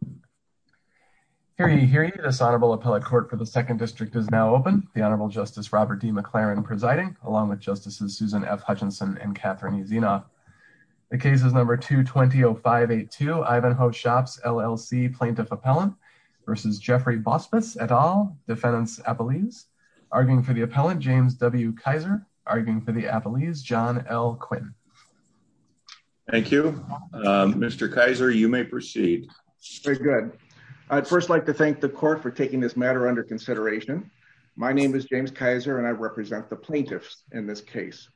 v. Jeffrey Bauspis, et al., Defendant's Appellees. Arguing for the Appellant, James W. Kaiser. Arguing for the Appellees, John L. Quinn. Thank you. Mr. Kaiser, you may proceed. Very good. I'd first like to thank the court for taking this matter under consideration. My name is James Kaiser and I represent the plaintiffs in this case.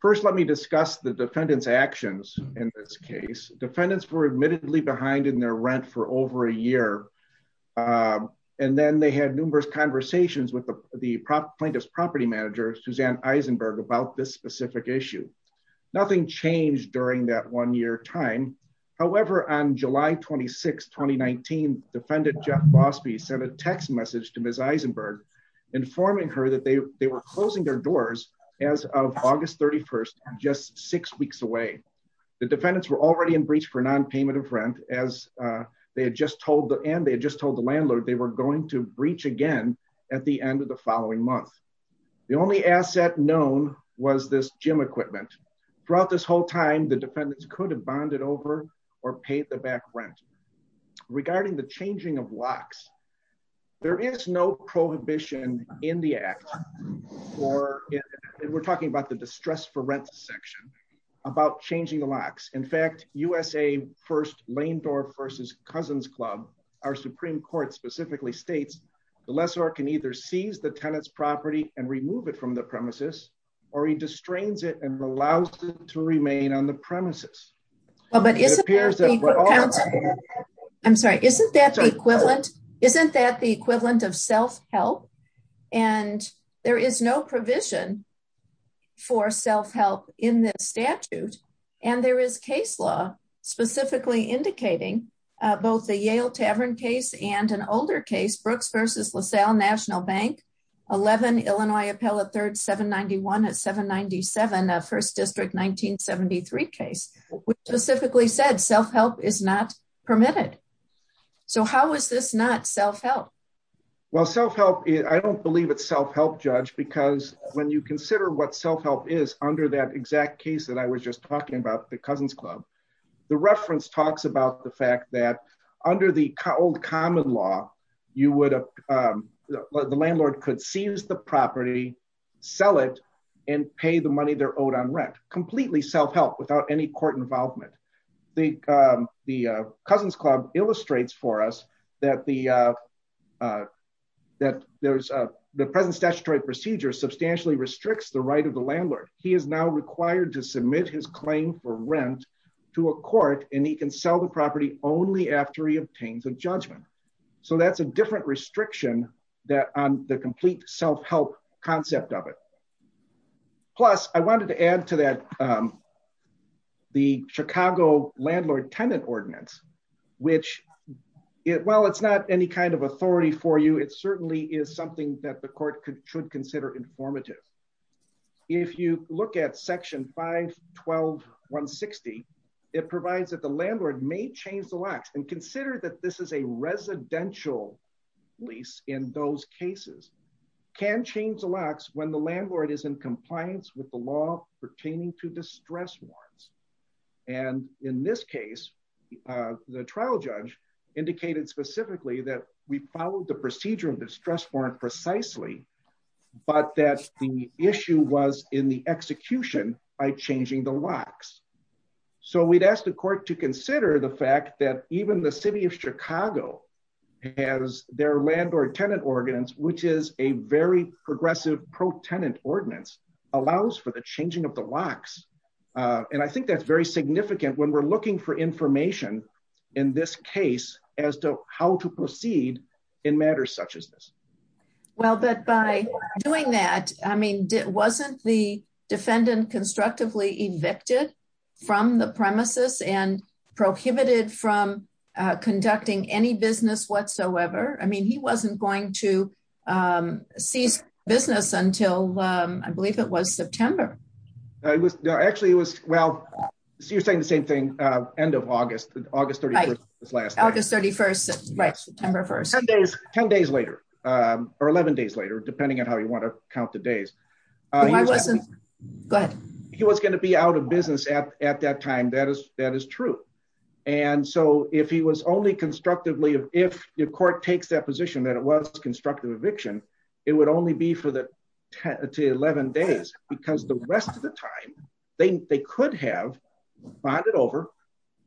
First, let me discuss the defendant's actions in this case. Defendants were admittedly behind in their rent for over a year and then they had numerous conversations with the plaintiff's property manager, Suzanne Eisenberg, about this specific issue. Nothing changed during that one-year time. However, on July 26, 2019, Defendant Jeff Bauspies sent a text message to Ms. Eisenberg informing her that they were closing their doors as of August 31st, just six weeks away. The defendants were already in breach for non-payment of rent and they had just told the landlord they were going to breach again at the end of the following month. The only asset known was this gym equipment. Throughout this whole time, the defendants could have bonded over or paid the back rent. Regarding the changing of locks, there is no prohibition in the Act or we're talking about the distress for rent section about changing the locks. In fact, USA First Lane Door vs. Cousins Club, our Supreme Court specifically states the lessor can either seize the tenant's property and remove it from the premises or he restrains it and allows it to remain on the premises. Isn't that the equivalent of self-help? There is no provision for self-help in this statute and there is case law specifically indicating both the Yale Tavern case and an older case, Brooks vs. LaSalle National Bank, 11 Illinois Appellate 3rd, 791 at 797, a 1st District 1973 case, which specifically said self-help is not permitted. So how is this not self-help? I don't believe it's self-help, Judge, because when you consider what self-help is under that exact case that I was just talking about, the Cousins Club, the reference talks about the fact that the landlord could seize the property, sell it, and pay the money they're owed on rent. Completely self-help without any court involvement. The Cousins Club illustrates for us that the present statutory procedure substantially restricts the right of the landlord. He is now required to submit his claim for rent to a court and he can sell the property only after he obtains a judgment. So that's a different restriction on the complete self-help concept of it. Plus, I wanted to add to that the Chicago Landlord-Tenant Ordinance, which, while it's not any kind of authority for you, it certainly is something that the court should consider informative. If you look at Section 512.160, it provides that the landlord may change the locks, and consider that this is a residential lease in those cases, can change the locks when the landlord is in compliance with the law pertaining to the stress warrants. And in this case, the trial judge indicated specifically that we followed the procedure of the stress warrant precisely, but that the issue was in the execution by changing the locks. So we'd ask the court to consider the fact that even the city of Chicago has their landlord-tenant ordinance, which is a very progressive pro-tenant ordinance, allows for the changing of the locks. And I think that's very significant when we're looking for information in this case as to how to proceed in matters such as this. Well, but by doing that, I mean, wasn't the defendant constructively evicted from the premises and prohibited from conducting any business whatsoever? I mean, he wasn't going to cease business until, I believe it was September. Actually, it was, well, so you're saying the same thing, end of August, August 31st, was last August 31st, right, September 1st. 10 days later, or 11 days later, depending on how you want to count the days. I wasn't, go ahead. He was going to be out of business at that time, that is true. And so if he was only constructively, if the court takes that position that it was constructive eviction, it would only be for the 10 to 11 days, because the rest of the time, they could have bonded over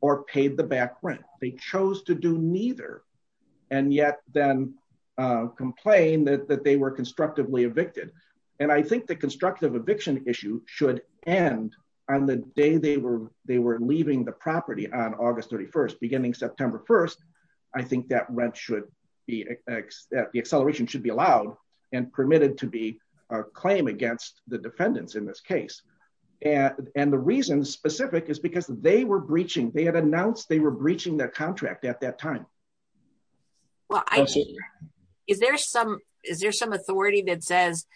or paid the back rent. They chose to do neither, and yet then complain that they were constructively evicted. And I think the constructive eviction issue should end on the day they were leaving the property on August 31st, beginning September 1st. I think that rent should be, the acceleration should be allowed and permitted to be a claim against the defendants in this case. And the reason specific is because they were breaching, they had announced they were breaching their contract at that time. Well, is there some authority that says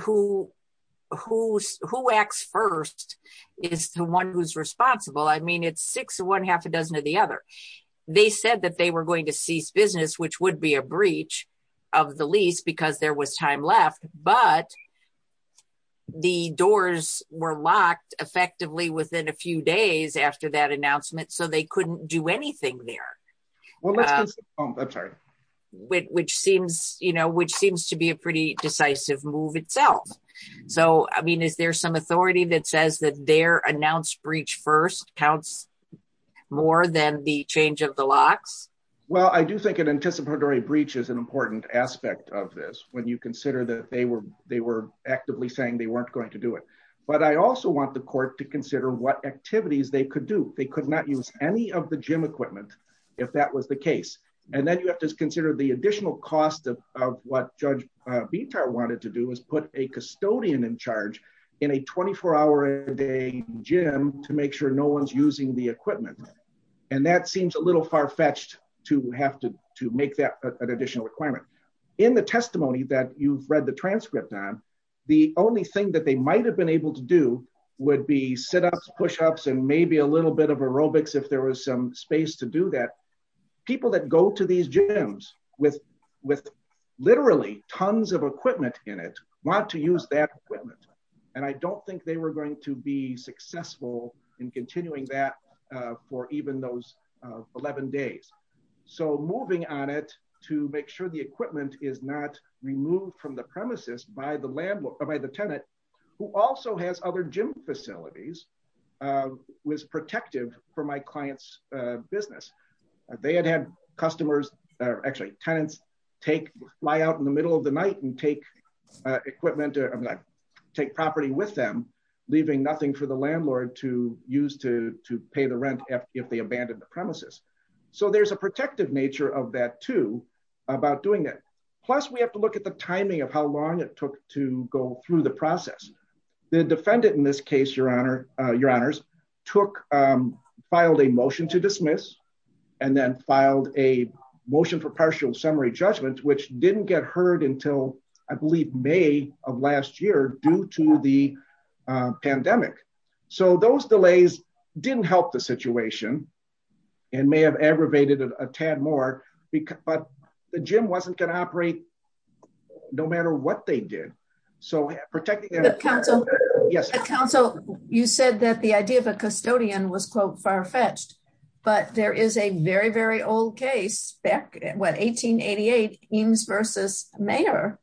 who acts first is the one who's responsible? I mean, it's six of one, half a dozen of the other. They said that they were going to cease business, which would be a breach of the lease because there was time left, but the doors were locked effectively within a few days after that announcement, so they couldn't do anything there. Which seems to be a pretty decisive move itself. So, I mean, is there some authority that says that their announced breach first counts more than the change of the locks? Well, I do think an anticipatory breach is an important aspect of this, when you consider that they were actively saying they weren't going to do it. But I also want the court to consider what activities they could do. They could not use any of the gym equipment if that was the case. And then you have to consider the additional cost of what Judge Bitar wanted to do is put a custodian in charge in a 24 hour a day gym to make sure no one's using the equipment. And that seems a little far-fetched to have to make that an additional requirement. In the testimony that you've read the transcript on, the only thing that they might have been able to do would be sit-ups, push-ups, and maybe a little bit of aerobics if there was some space to do that. People that go to these gyms with literally tons of equipment in it want to use that equipment. And I don't think they were going to be successful in continuing that for even those 11 days. So moving on it to make sure the equipment is not removed from the premises by the tenant, who also has other gym facilities, was protective for my client's business. They had had customers, actually tenants, fly out in the middle of the night and take property with them, leaving nothing for the landlord to use to pay the rent if they abandoned the premises. So there's a protective nature of that too about doing that. Plus, we have to look at the timing of how long it took to go through the process. The defendant in this case, your honors, filed a motion to dismiss and then filed a motion for partial summary judgment, which didn't get heard until I believe May of last year due to the pandemic. So those delays didn't help the aggravated a tad more, but the gym wasn't going to operate no matter what they did. So protecting the council, you said that the idea of a custodian was quote far-fetched, but there is a very, very old case back in 1888 Eames versus Mayer,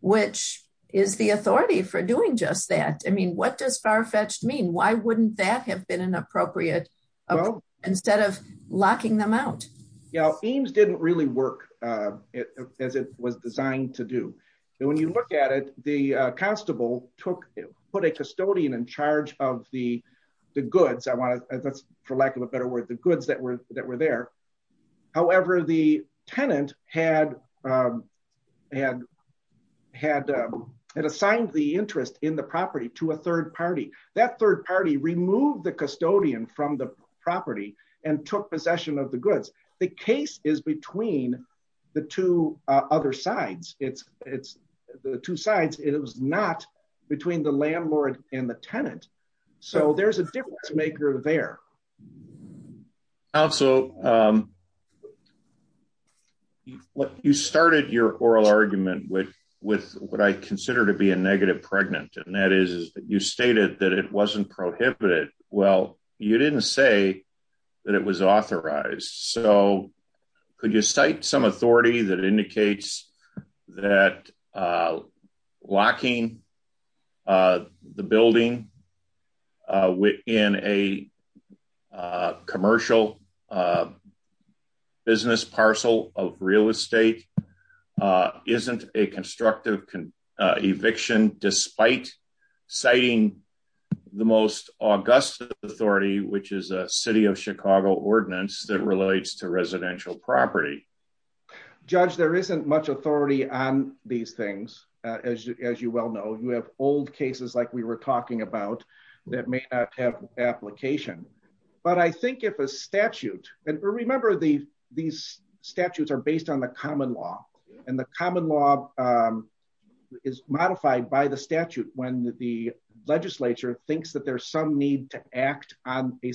which is the authority for doing just that. I mean, what does far-fetched mean? Why wouldn't that have been an appropriate instead of locking them out? Yeah, Eames didn't really work as it was designed to do. And when you look at it, the constable put a custodian in charge of the goods. I want to, that's for lack of a better word, the goods that were there. However, the tenant had assigned the interest in the property to a third party. That third party removed the custodian from property and took possession of the goods. The case is between the two sides. It was not between the landlord and the tenant. So there's a difference maker there. Also, you started your oral argument with what I consider to be a negative pregnant, and that is that you stated that it wasn't prohibited. Well, you didn't say that it was authorized. So could you cite some authority that indicates that locking the building within a commercial business parcel of real estate isn't a constructive eviction despite citing the most august authority, which is a city of Chicago ordinance that relates to residential property? Judge, there isn't much authority on these things. As you well know, you have old cases like we were talking about that may not have application. But I think if a statute, and remember these statutes are based on the common law, and the common law is modified by the statute when the legislature thinks that there's some need to act on a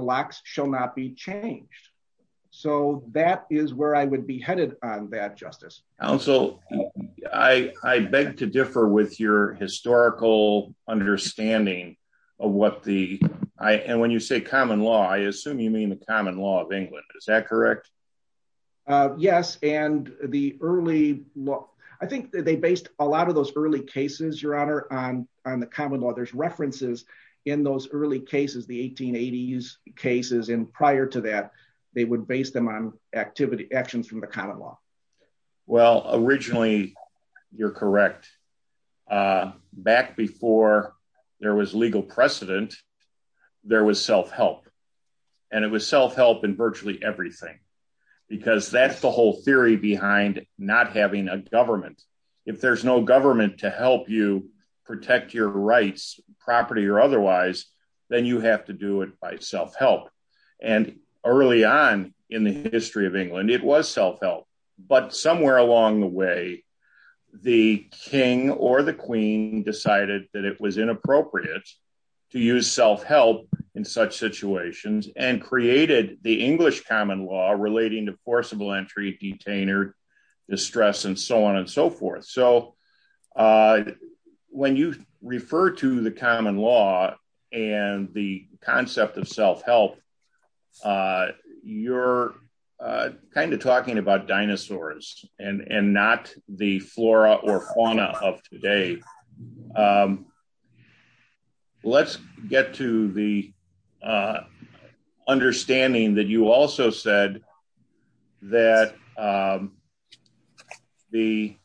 locks shall not be changed. So that is where I would be headed on that justice. Also, I beg to differ with your historical understanding of what the I and when you say common law, I assume you mean the common law of England. Is that correct? Yes. And the early look, I think that they based a lot of those early cases, Your Honor, on the common law, there's references in those early cases, the 1880s cases, and prior to that, they would base them on activity actions from the common law. Well, originally, you're correct. Back before there was legal precedent, there was self help. And it was self help in virtually everything. Because that's the whole theory behind not having a government. If there's government to help you protect your rights, property or otherwise, then you have to do it by self help. And early on in the history of England, it was self help. But somewhere along the way, the king or the queen decided that it was inappropriate to use self help in such situations and created the English common law relating to forcible entry, detainer, distress, and so on and so forth. So when you refer to the common law, and the concept of self help, you're kind of talking about dinosaurs and and not the flora or fauna of today. Um, let's get to the understanding that you also said that the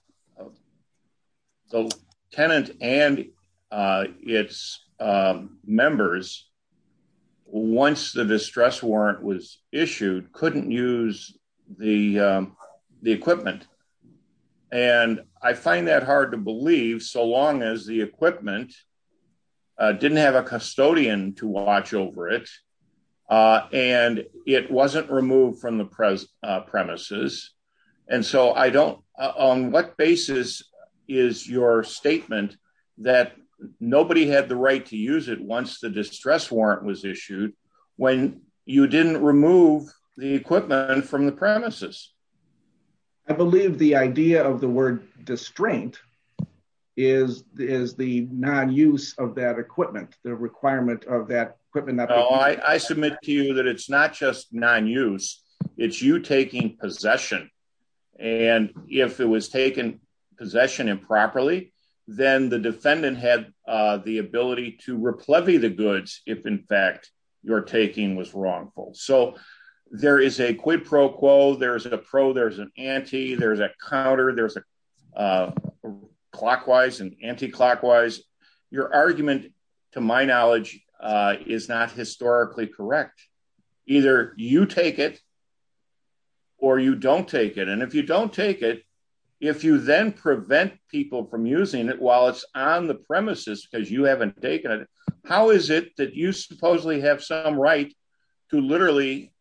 tenant and its members, once the distress warrant was issued, couldn't use the equipment. And I find that hard to believe so long as the equipment didn't have a custodian to watch over it. And it wasn't removed from the present premises. And so I don't on what basis is your statement that nobody had the right to use it once the distress warrant was issued, when you didn't remove the equipment from the premises? I believe the idea of the word distraint is the is the non use of that equipment, the requirement of that equipment that I submit to you that it's not just non use, it's you taking possession. And if it was taken possession improperly, then the defendant had the ability to replevy the goods if in fact, your taking was wrongful. So there is a quid pro quo, there's a pro, there's an anti there's a counter, there's a clockwise and anti clockwise, your argument, to my knowledge, is not historically correct. Either you take it or you don't take it. And if you don't take it, if you then prevent people from using it while it's on the premises, because you haven't taken it, how is it that you supposedly have some right to literally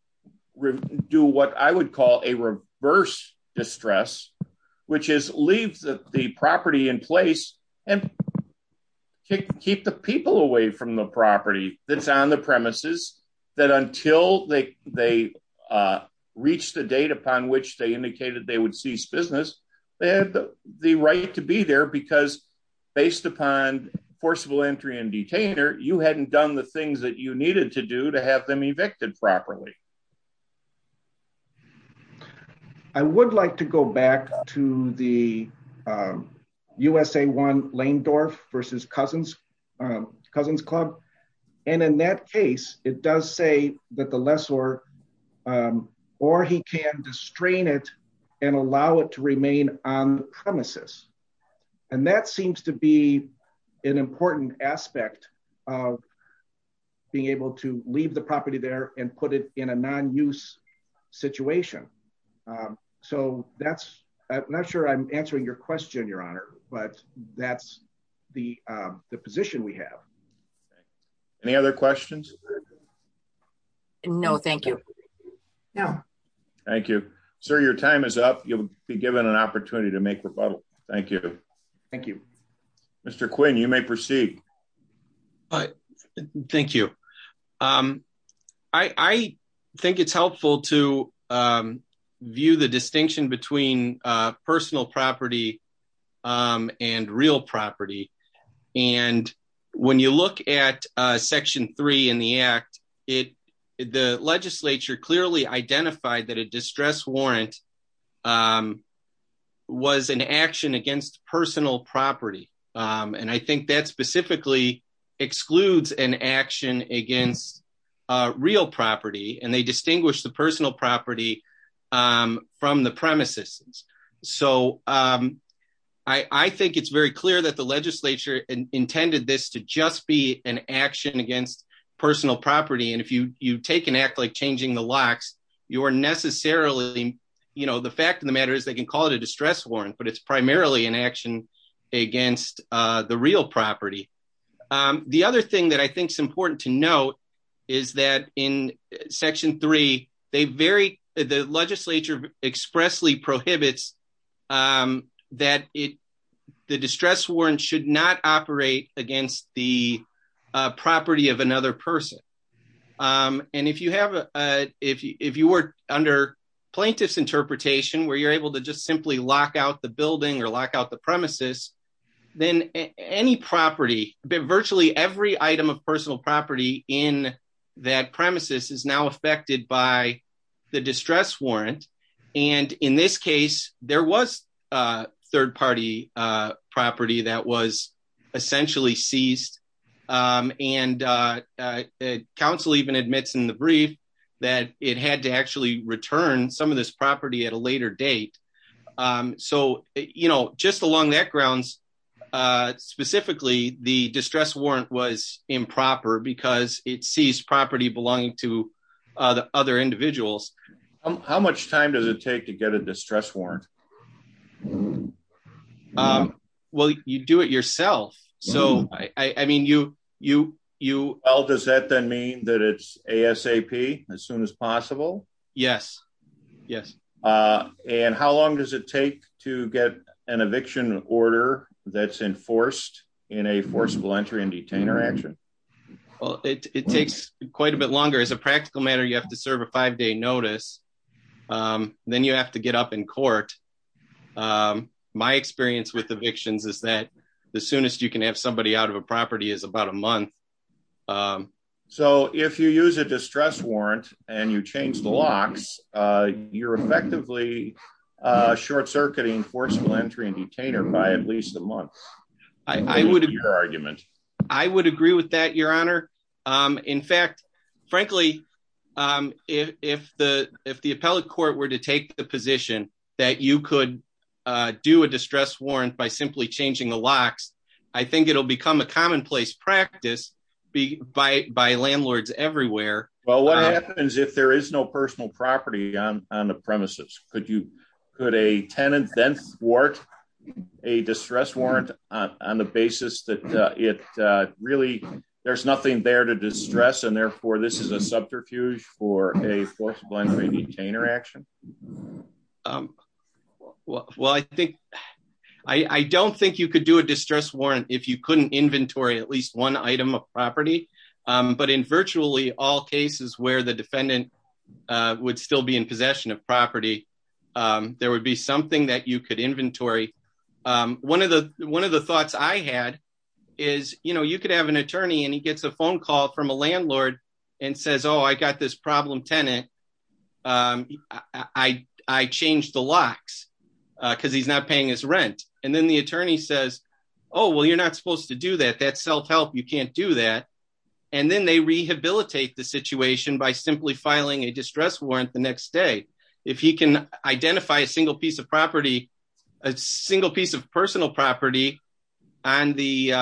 do what I would call a reverse distress, which is leave the property in place and kick keep the people away from the property that's on the premises, that until they they reach the date upon which they indicated they would cease business, they had the right to be there because based upon forcible entry and detainer, you hadn't done the you needed to do to have them evicted properly. I would like to go back to the USA one lane door versus cousins, cousins club. And in that case, it does say that the lessor or he can distrain it and allow it to remain on premises. And that seems to be an important aspect of being able to leave the property there and put it in a non use situation. So that's not sure I'm answering your question, Your Honor, but that's the position we have. Any other questions? No, thank you. No. Thank you, sir. Your time is up, you'll be given an opportunity to make a rebuttal. Thank you. Thank you. Mr. Quinn, you may proceed. Thank you. I think it's helpful to view the distinction between personal property and real property. And when you look at section three in the act, it the legislature clearly identified that a distress warrant was an action against personal property. And I think that specifically excludes an action against real property, and they distinguish the personal property from the premises. So I think it's very clear that the legislature intended this to just be an action against personal property. And if you you take an act like changing the locks, you are necessarily, you know, the fact of the matter is they can call it a distress warrant, but it's primarily an action against the real property. The other thing that I think is important to note is that in section three, they very, the legislature expressly prohibits that it, the distress warrant should not operate against the property of another person. And if you have, if you were under plaintiff's interpretation, where you're able to just simply lock out the building or lock out the premises, then any property, virtually every item of personal property in that premises is now affected by the distress warrant. And in this case, there was a third party property that was essentially seized. And council even admits in the brief that it had to actually return some of this property at a later date. So, you know, just along that grounds, specifically, the distress warrant was improper because it sees property belonging to the other individuals. How much time does it take to get a distress warrant? Well, you do it yourself. So I mean, you, you, you all does that then mean that it's ASAP as soon as possible? Yes. Yes. And how long does it take to get an eviction order that's enforced in a forcible entry and detainer action? Well, it takes quite a bit longer as a practical matter, you have to serve a five day notice, then you have to get up in court. My experience with evictions is that the soonest you can have somebody out of a property is about a month. Um, so if you use a distress warrant, and you change the locks, you're effectively short circuiting forcible entry and detainer by at least a month, I would argument, I would agree with that, Your Honor. In fact, frankly, if the if the appellate court were to take the position that you could do a distress warrant by simply changing the locks, I think it'll become a commonplace practice be by by landlords everywhere. Well, what happens if there is no personal property on on the premises? Could you put a tenant then sport a distress warrant on the basis that it really, there's nothing there to distress and therefore this is a subterfuge for a forcible entry and detainer action? Well, I think I don't think you could do if you couldn't inventory at least one item of property. But in virtually all cases where the defendant would still be in possession of property, there would be something that you could inventory. One of the one of the thoughts I had is, you know, you could have an attorney and he gets a phone call from a landlord and says, Oh, I got this problem tenant. I changed the locks because he's not paying his rent. And then the attorney says, Oh, well, you're not supposed to do that. That's self help. You can't do that. And then they rehabilitate the situation by simply filing a distress warrant the next day. If he can identify a single piece of property, a single piece of personal property on the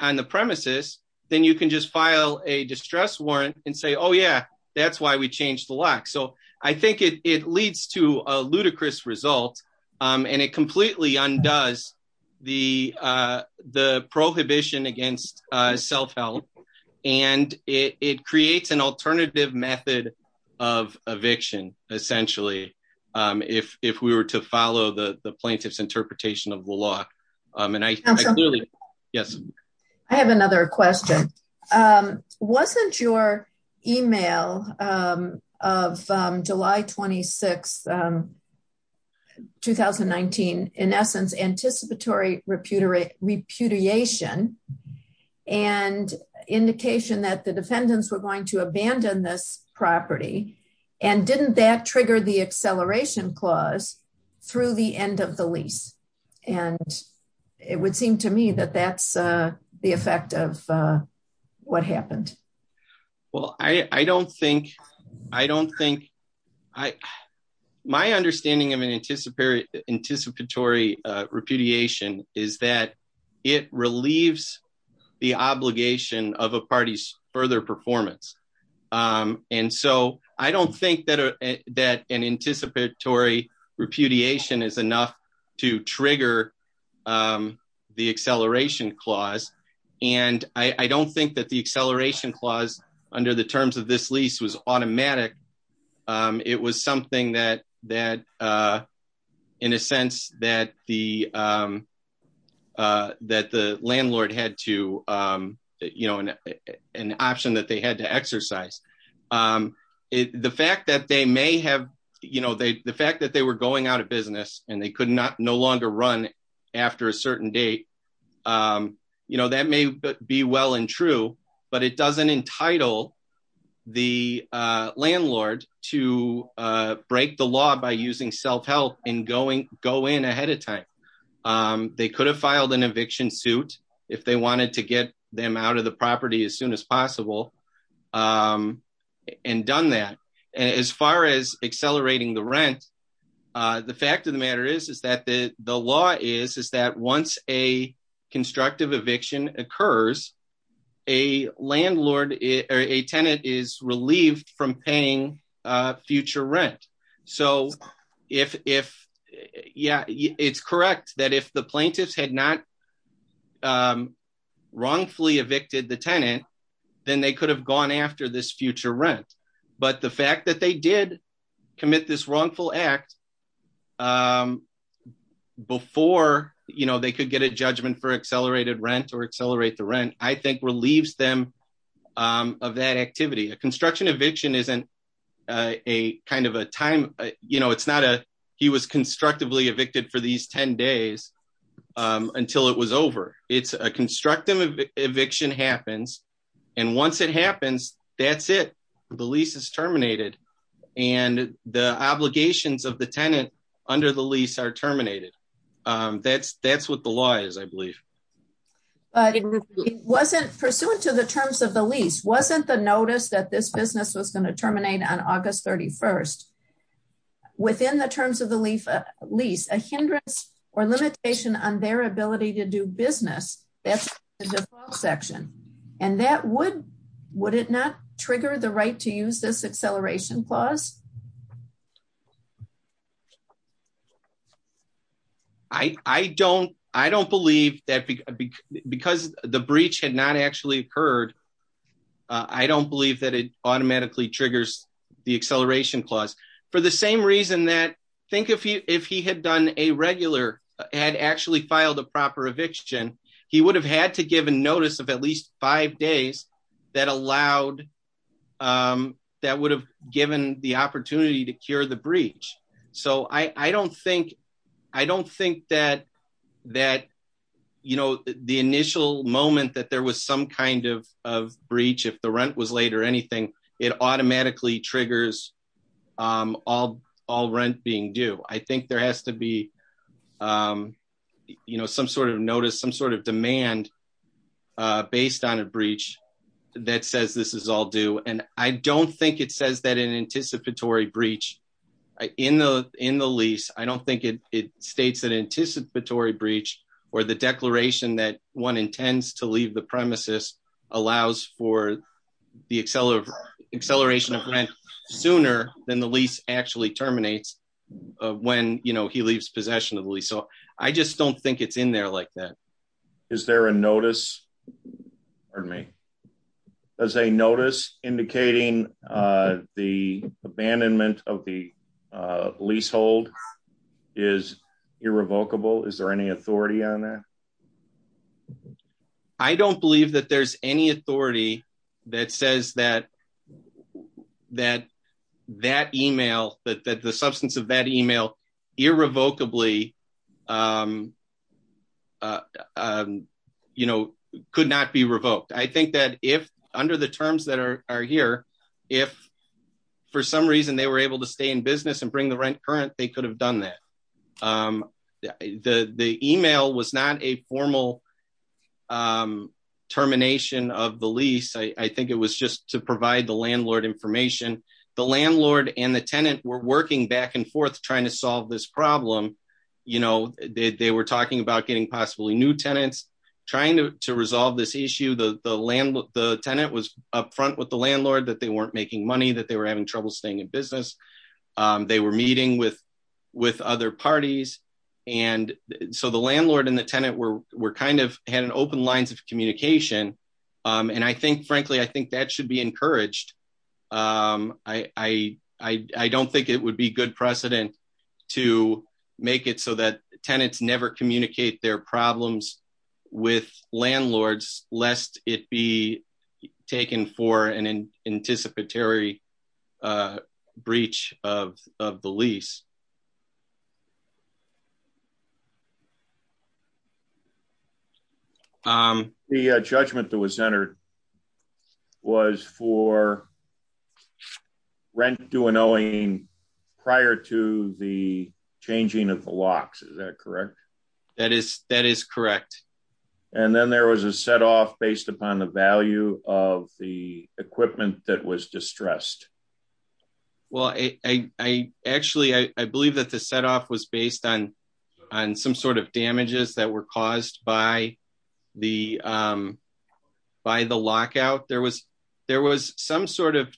on the premises, then you can just file a distress warrant and say, Oh, yeah, that's why we changed the lock. So I think it leads to a ludicrous result. And it completely undoes the the prohibition against self help. And it creates an alternative method of eviction, essentially, if if we were to follow the the plaintiff's interpretation of the law, and I clearly, yes, I have another question. Wasn't your email of July 26 2019, in essence, anticipatory repudiation, repudiation, and indication that the defendants were going to abandon this property. And didn't that trigger the it would seem to me that that's the effect of what happened? Well, I don't think I don't think I, my understanding of an anticipated anticipatory repudiation is that it relieves the obligation of a party's further performance. And so I don't think that that an anticipatory repudiation is enough to trigger the acceleration clause. And I don't think that the acceleration clause under the terms of this lease was automatic. It was something that that, in a sense that the that the landlord had to, you know, an option that they had to exercise it, the fact that they may have, you know, they the fact that they were going out of business, and they could not no longer run after a certain date. You know, that may be well and true, but it doesn't entitle the landlord to break the law by using self help in going go in ahead of time. They could have filed an eviction suit if they wanted to get them out of the property as soon as possible. And done that, as far as accelerating the rent. The fact of the matter is, is that the the law is is that once a constructive eviction occurs, a landlord, a tenant is relieved from paying future rent. So if if, yeah, it's correct that if the plaintiffs had not wrongfully evicted the tenant, then they could have gone after this future rent. But the fact that they did commit this wrongful act before, you know, they could get a judgment for accelerated rent or accelerate the rent, I think relieves them of that activity. A a kind of a time, you know, it's not a he was constructively evicted for these 10 days until it was over. It's a constructive eviction happens. And once it happens, that's it, the lease is terminated. And the obligations of the tenant under the lease are terminated. That's that's what the law is, I believe. But it wasn't pursuant to the terms of the lease wasn't the notice that this business was going to terminate on August 31. Within the terms of the leaf, at least a hindrance or limitation on their ability to do business. That's the section. And that would, would it not trigger the right to use this acceleration clause? I don't, I don't believe that because the breach had not actually occurred. I don't believe that it automatically triggers the acceleration clause for the same reason that think if he if he had done a regular had actually filed a proper eviction, he would have had to give a notice of at least five days that allowed that would have given the opportunity to cure the breach. So I don't think I don't think that, that, you know, the initial moment that there was some kind of breach, if the rent was late or anything, it automatically triggers all all rent being due, I think there has to be, you know, some sort of notice some sort of demand based on a breach that says this is all due. And I don't think it says that an anticipatory breach in the in the lease, I don't think it states that anticipatory breach, or the declaration that one intends to leave the premises allows for the acceleration of rent sooner than the lease actually terminates when you know, he leaves possession of the lease. So I just don't think it's in there like that. Is there a notice or me as a notice indicating the abandonment of the leasehold is irrevocable? Is there any authority on that? I don't believe that there's any authority that says that, that, that email that that the substance of that email irrevocably you know, could not be revoked. I think that if under the terms that are here, if for some reason they were able to stay in business and bring the rent current, they could have done that. The email was not a formal termination of the lease, I think it was just to provide the landlord information. The landlord and the tenant were working back and forth trying to solve this trying to resolve this issue. The tenant was up front with the landlord that they weren't making money that they were having trouble staying in business. They were meeting with other parties. And so the landlord and the tenant were kind of had an open lines of communication. And I think frankly, I think that should be encouraged. I don't think it would be good to make it so that tenants never communicate their problems with landlords, lest it be taken for an anticipatory breach of the lease. The judgment that was entered was for rent due and owing prior to the changing of the locks, is that correct? That is, that is correct. And then there was a set off based upon the value of the equipment that was distressed. Well, I actually I believe that the set off was based on on some sort of damages that were caused by the by the lockout, there was, there was some sort of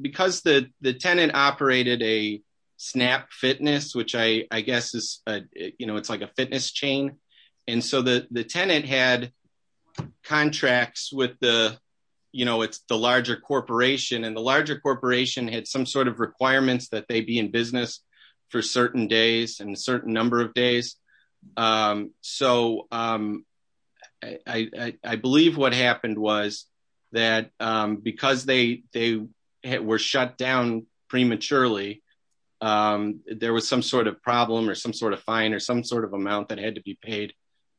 because the the tenant operated a snap fitness, which I guess is, you know, it's like a fitness chain. And so the the tenant had contracts with the, you know, it's the larger corporation and the larger corporation had some sort of requirements that they be in business for certain days and a certain number of days. So I believe what happened was that, because they were shut down prematurely, there was some sort of problem or some sort of fine or some sort of amount that had to be paid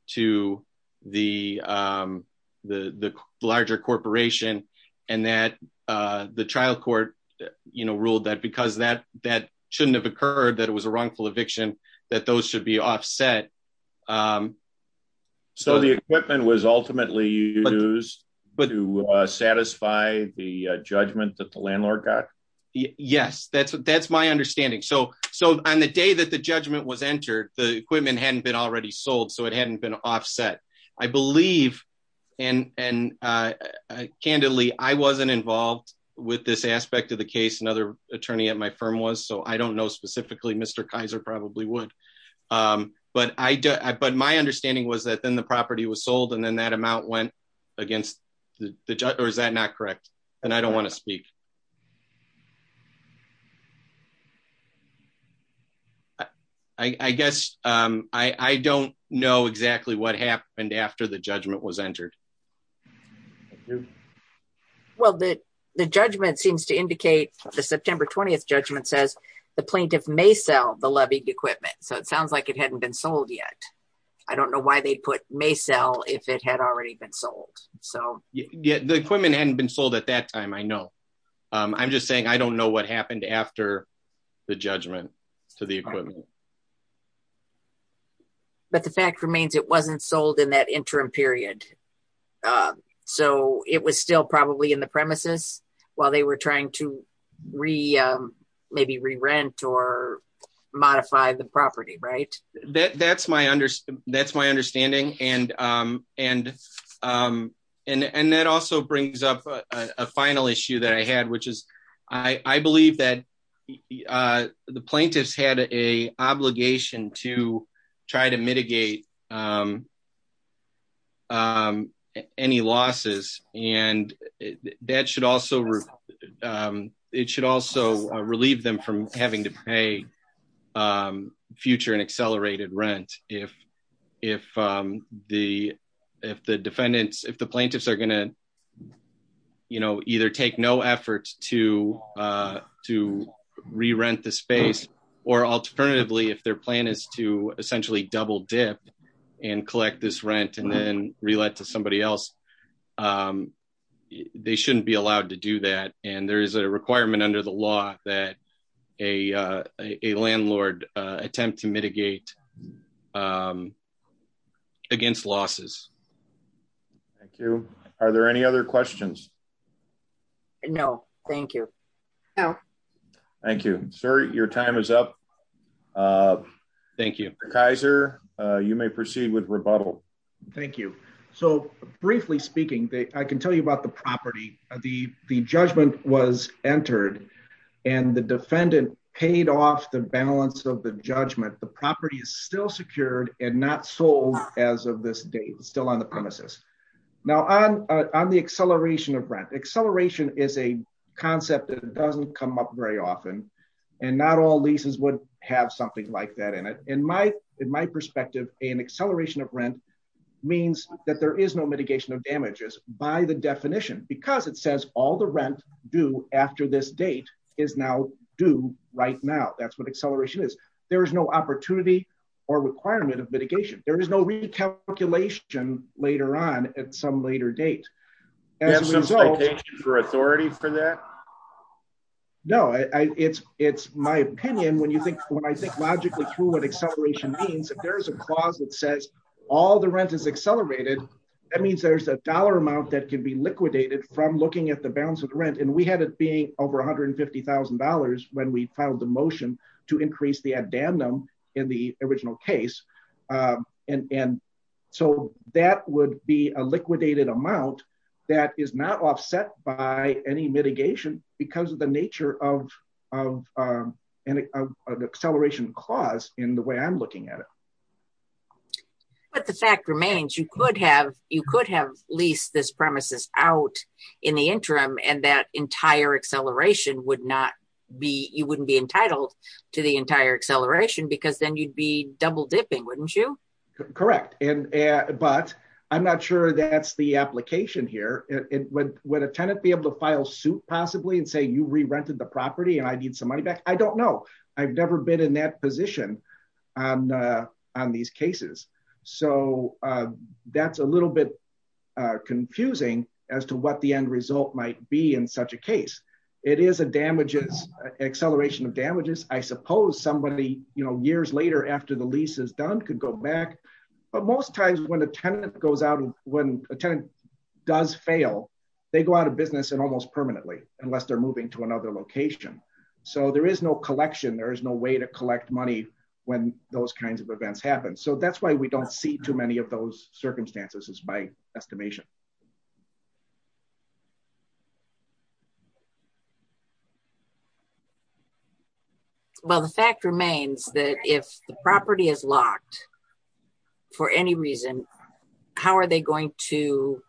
to the the larger corporation. And that the trial court, you know, ruled that because that that shouldn't have occurred, that it was a wrongful eviction, that those should be offset. So the equipment was ultimately used to satisfy the judgment that the landlord got? Yes, that's, that's my understanding. So, so on the day that the judgment was entered, the equipment hadn't been already sold. So it hadn't been offset. I believe, and, and candidly, I wasn't involved with this aspect of the case, another attorney at my firm was, so I don't know specifically, Mr. Kaiser probably would. But I, but my understanding was that then the property was sold, and then that amount went against the judge, or is that not correct? And I don't want to speak. I guess, I don't know exactly what happened after the judgment was entered. Well, the, the judgment seems to indicate, the September 20th judgment says, the plaintiff may sell the levy equipment. So it sounds like it hadn't been sold yet. I don't know why they put may sell if it had already been sold. So yeah, the equipment hadn't been sold at that time. I know. I'm just saying, I don't know what happened after the judgment to the equipment. But the fact remains, it wasn't sold in that interim period. So it was still probably in the premises, while they were trying to re, maybe re-rent or modify the property, right? That's my understanding. And, and, and that also brings up a final issue that I had, which is, I believe that the plaintiffs had a obligation to try to mitigate any losses. And that should also, it should also relieve them from having to pay future and accelerated rent. If, if the, if the defendants, if the plaintiffs are going to, you know, either take no efforts to, to re-rent the space, or alternatively, their plan is to essentially double dip and collect this rent and then relate to somebody else. They shouldn't be allowed to do that. And there is a requirement under the law that a, a landlord attempt to mitigate against losses. Thank you. Are there any other questions? No, thank you. No. Thank you, sir. Your time is up. Thank you. Kaiser, you may proceed with rebuttal. Thank you. So briefly speaking, they, I can tell you about the property, the, the judgment was entered and the defendant paid off the balance of the judgment. The property is still secured and not sold as of this date, still on the premises. Now on, on the acceleration of rent, acceleration is a concept that doesn't come up very often. And not all leases would have something like that in it. In my, in my perspective, an acceleration of rent means that there is no mitigation of damages by the definition, because it says all the rent due after this date is now due right now. That's what acceleration is. There is no opportunity or requirement of mitigation. There is no recalculation later on at some later date for authority for that. No, I it's, it's my opinion. When you think logically through what acceleration means, if there's a clause that says all the rent is accelerated, that means there's a dollar amount that can be liquidated from looking at the balance of rent. And we had it being over $150,000 when we and so that would be a liquidated amount that is not offset by any mitigation because of the nature of, of an acceleration clause in the way I'm looking at it. But the fact remains, you could have, you could have leased this premises out in the interim and that entire acceleration would not be, you wouldn't be entitled to the entire acceleration because then you'd be double dipping, wouldn't you? Correct. And, but I'm not sure that's the application here. It would, would a tenant be able to file suit possibly and say, you re-rented the property and I need some money back. I don't know. I've never been in that position on, on these cases. So that's a little bit confusing as to what the end result might be in such a case. It is a damages, acceleration of damages. I suppose somebody, you know, years later after the lease is done, could go back. But most times when a tenant goes out and when a tenant does fail, they go out of business and almost permanently unless they're moving to another location. So there is no collection. There is no way to collect money when those kinds of events happen. So that's why we don't see too many of those circumstances is by estimation. Well, the fact remains that if the property is locked for any reason, how are they going to,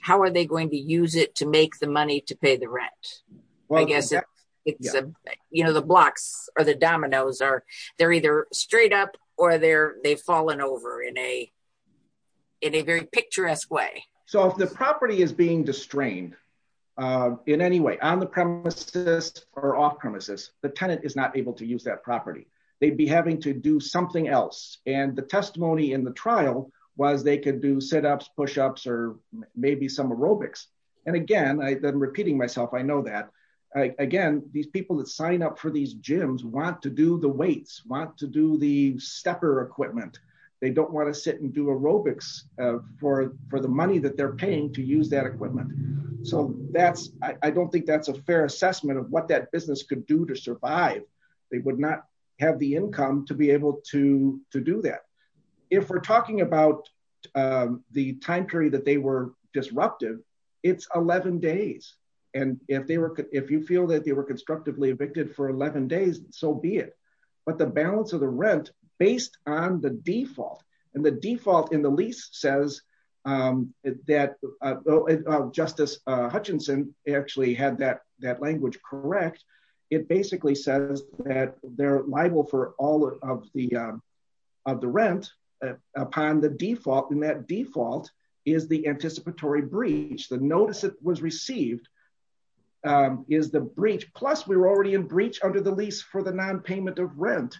how are they going to use it to make the money to pay the rent? Well, I guess it's, you know, the blocks or the dominoes are, they're either straight up or they're, they've fallen over in a, in a very picturesque way. So if the property is being distrained in any way on the premises or off premises, the tenant is not able to use that property. They'd be having to do something else. And the testimony in the trial was they could do sit-ups, push-ups, or maybe some aerobics. And again, I've been repeating myself. I know that again, these people that sign up for these gyms want to do the weights, want to do the stepper equipment. They don't want to sit and do aerobics for the money that they're paying to use that equipment. So that's, I don't think that's a fair assessment of what that business could do to survive. They would not have the income to be able to do that. If we're talking about the time period that they were disrupted, it's 11 days. And if they were, if you feel that they were constructively evicted for 11 days, so be it. But the balance of the rent based on the default and the default in the lease says that Justice Hutchinson actually had that language correct. It basically says that they're liable for all of the, of the rent upon the default. And that default is the anticipatory breach. The notice that was received is the breach. Plus we were already in breach under the lease for the non-payment of rent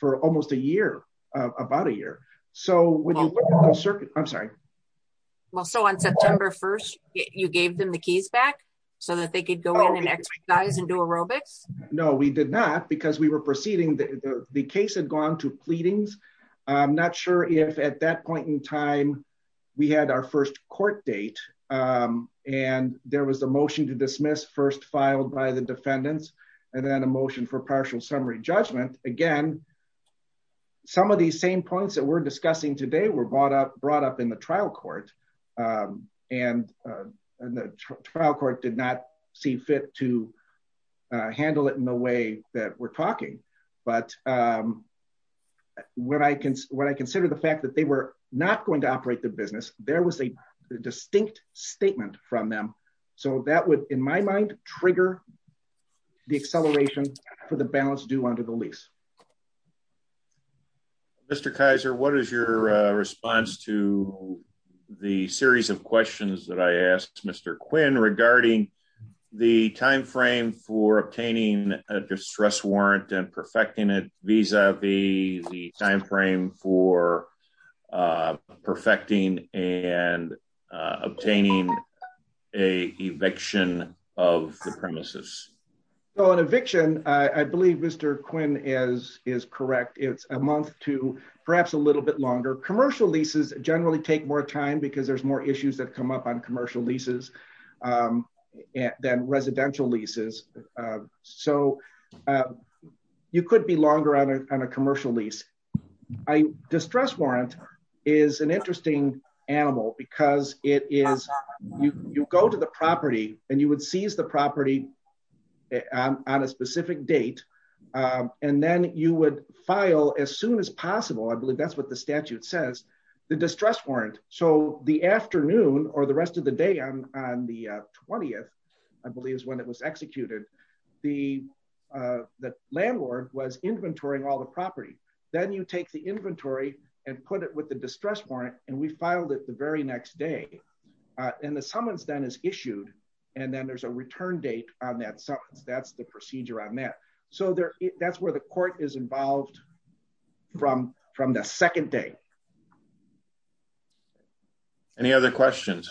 for almost a year, about a year. So when you look at the circuit, I'm sorry. Well, so on September 1st, you gave them the keys back so that they could go in and exercise and do aerobics? No, we did not because we were proceeding. The case had gone to pleadings. I'm not sure if at that point in time we had our first court date and there was a motion to dismiss first filed by the defendants and then a motion for partial summary judgment. Again, some of these same points that we're discussing today were brought up, brought up in the trial court. And the trial court did not see fit to handle it in the way that we're talking, but um, when I can, when I consider the fact that they were not going to operate the business, there was a distinct statement from them. So that would, in my mind, trigger the acceleration for the balance due under the lease. Mr. Kaiser, what is your response to the series of questions that I asked Mr. Quinn regarding the timeframe for obtaining a distress warrant and perfecting it vis-a-vis the timeframe for perfecting and obtaining an eviction of the premises? So an eviction, I believe Mr. Quinn is correct. It's a month to perhaps a little bit longer. Commercial leases generally take more time because there's more issues that come up on commercial leases than residential leases. So you could be longer on a, on a commercial lease. A distress warrant is an interesting animal because it is, you go to the property and you would seize the property on a specific date. And then you would file as soon as possible. I believe that's what statute says, the distress warrant. So the afternoon or the rest of the day on the 20th, I believe is when it was executed. The landlord was inventorying all the property. Then you take the inventory and put it with the distress warrant and we filed it the very next day. And the summons then is issued. And then there's a return date on that summons. That's the procedure on that. So that's where the court is involved from the second day. Any other questions?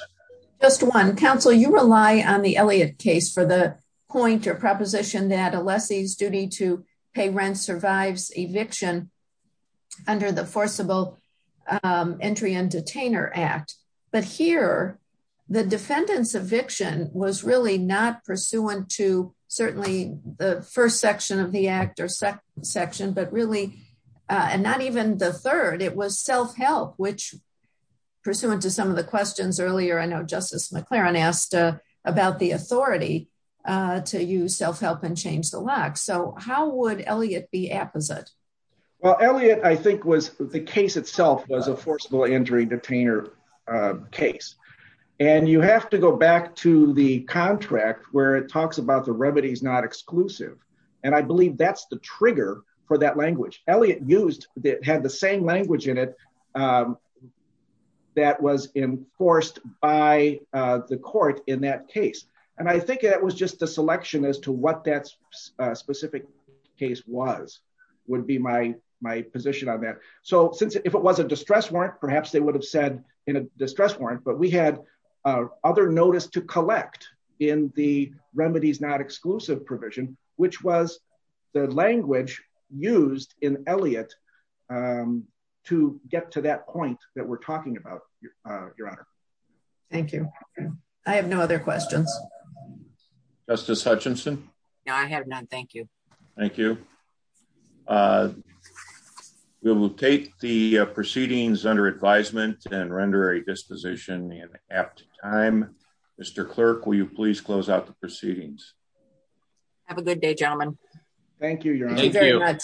Just one. Counsel, you rely on the Elliott case for the point or proposition that a lessee's duty to pay rent survives eviction under the forcible entry and detainer act. But here, the defendant's eviction was really not first section of the act or second section, but really, and not even the third, it was self-help, which pursuant to some of the questions earlier, I know Justice McLaren asked about the authority to use self-help and change the lock. So how would Elliott be apposite? Well, Elliott, I think was the case itself was a forcible injury detainer case. And you have to go to the contract where it talks about the remedies not exclusive. And I believe that's the trigger for that language. Elliott used that had the same language in it that was enforced by the court in that case. And I think that was just the selection as to what that specific case was would be my position on that. So since if it was a distress warrant, perhaps they would have said in a notice to collect in the remedies not exclusive provision, which was the language used in Elliott to get to that point that we're talking about, Your Honor. Thank you. I have no other questions. Justice Hutchinson? No, I have none. Thank you. Thank you. We'll take the proceedings under advisement and render a disposition in Mr. Clerk, will you please close out the proceedings? Have a good day, gentlemen. Thank you very much.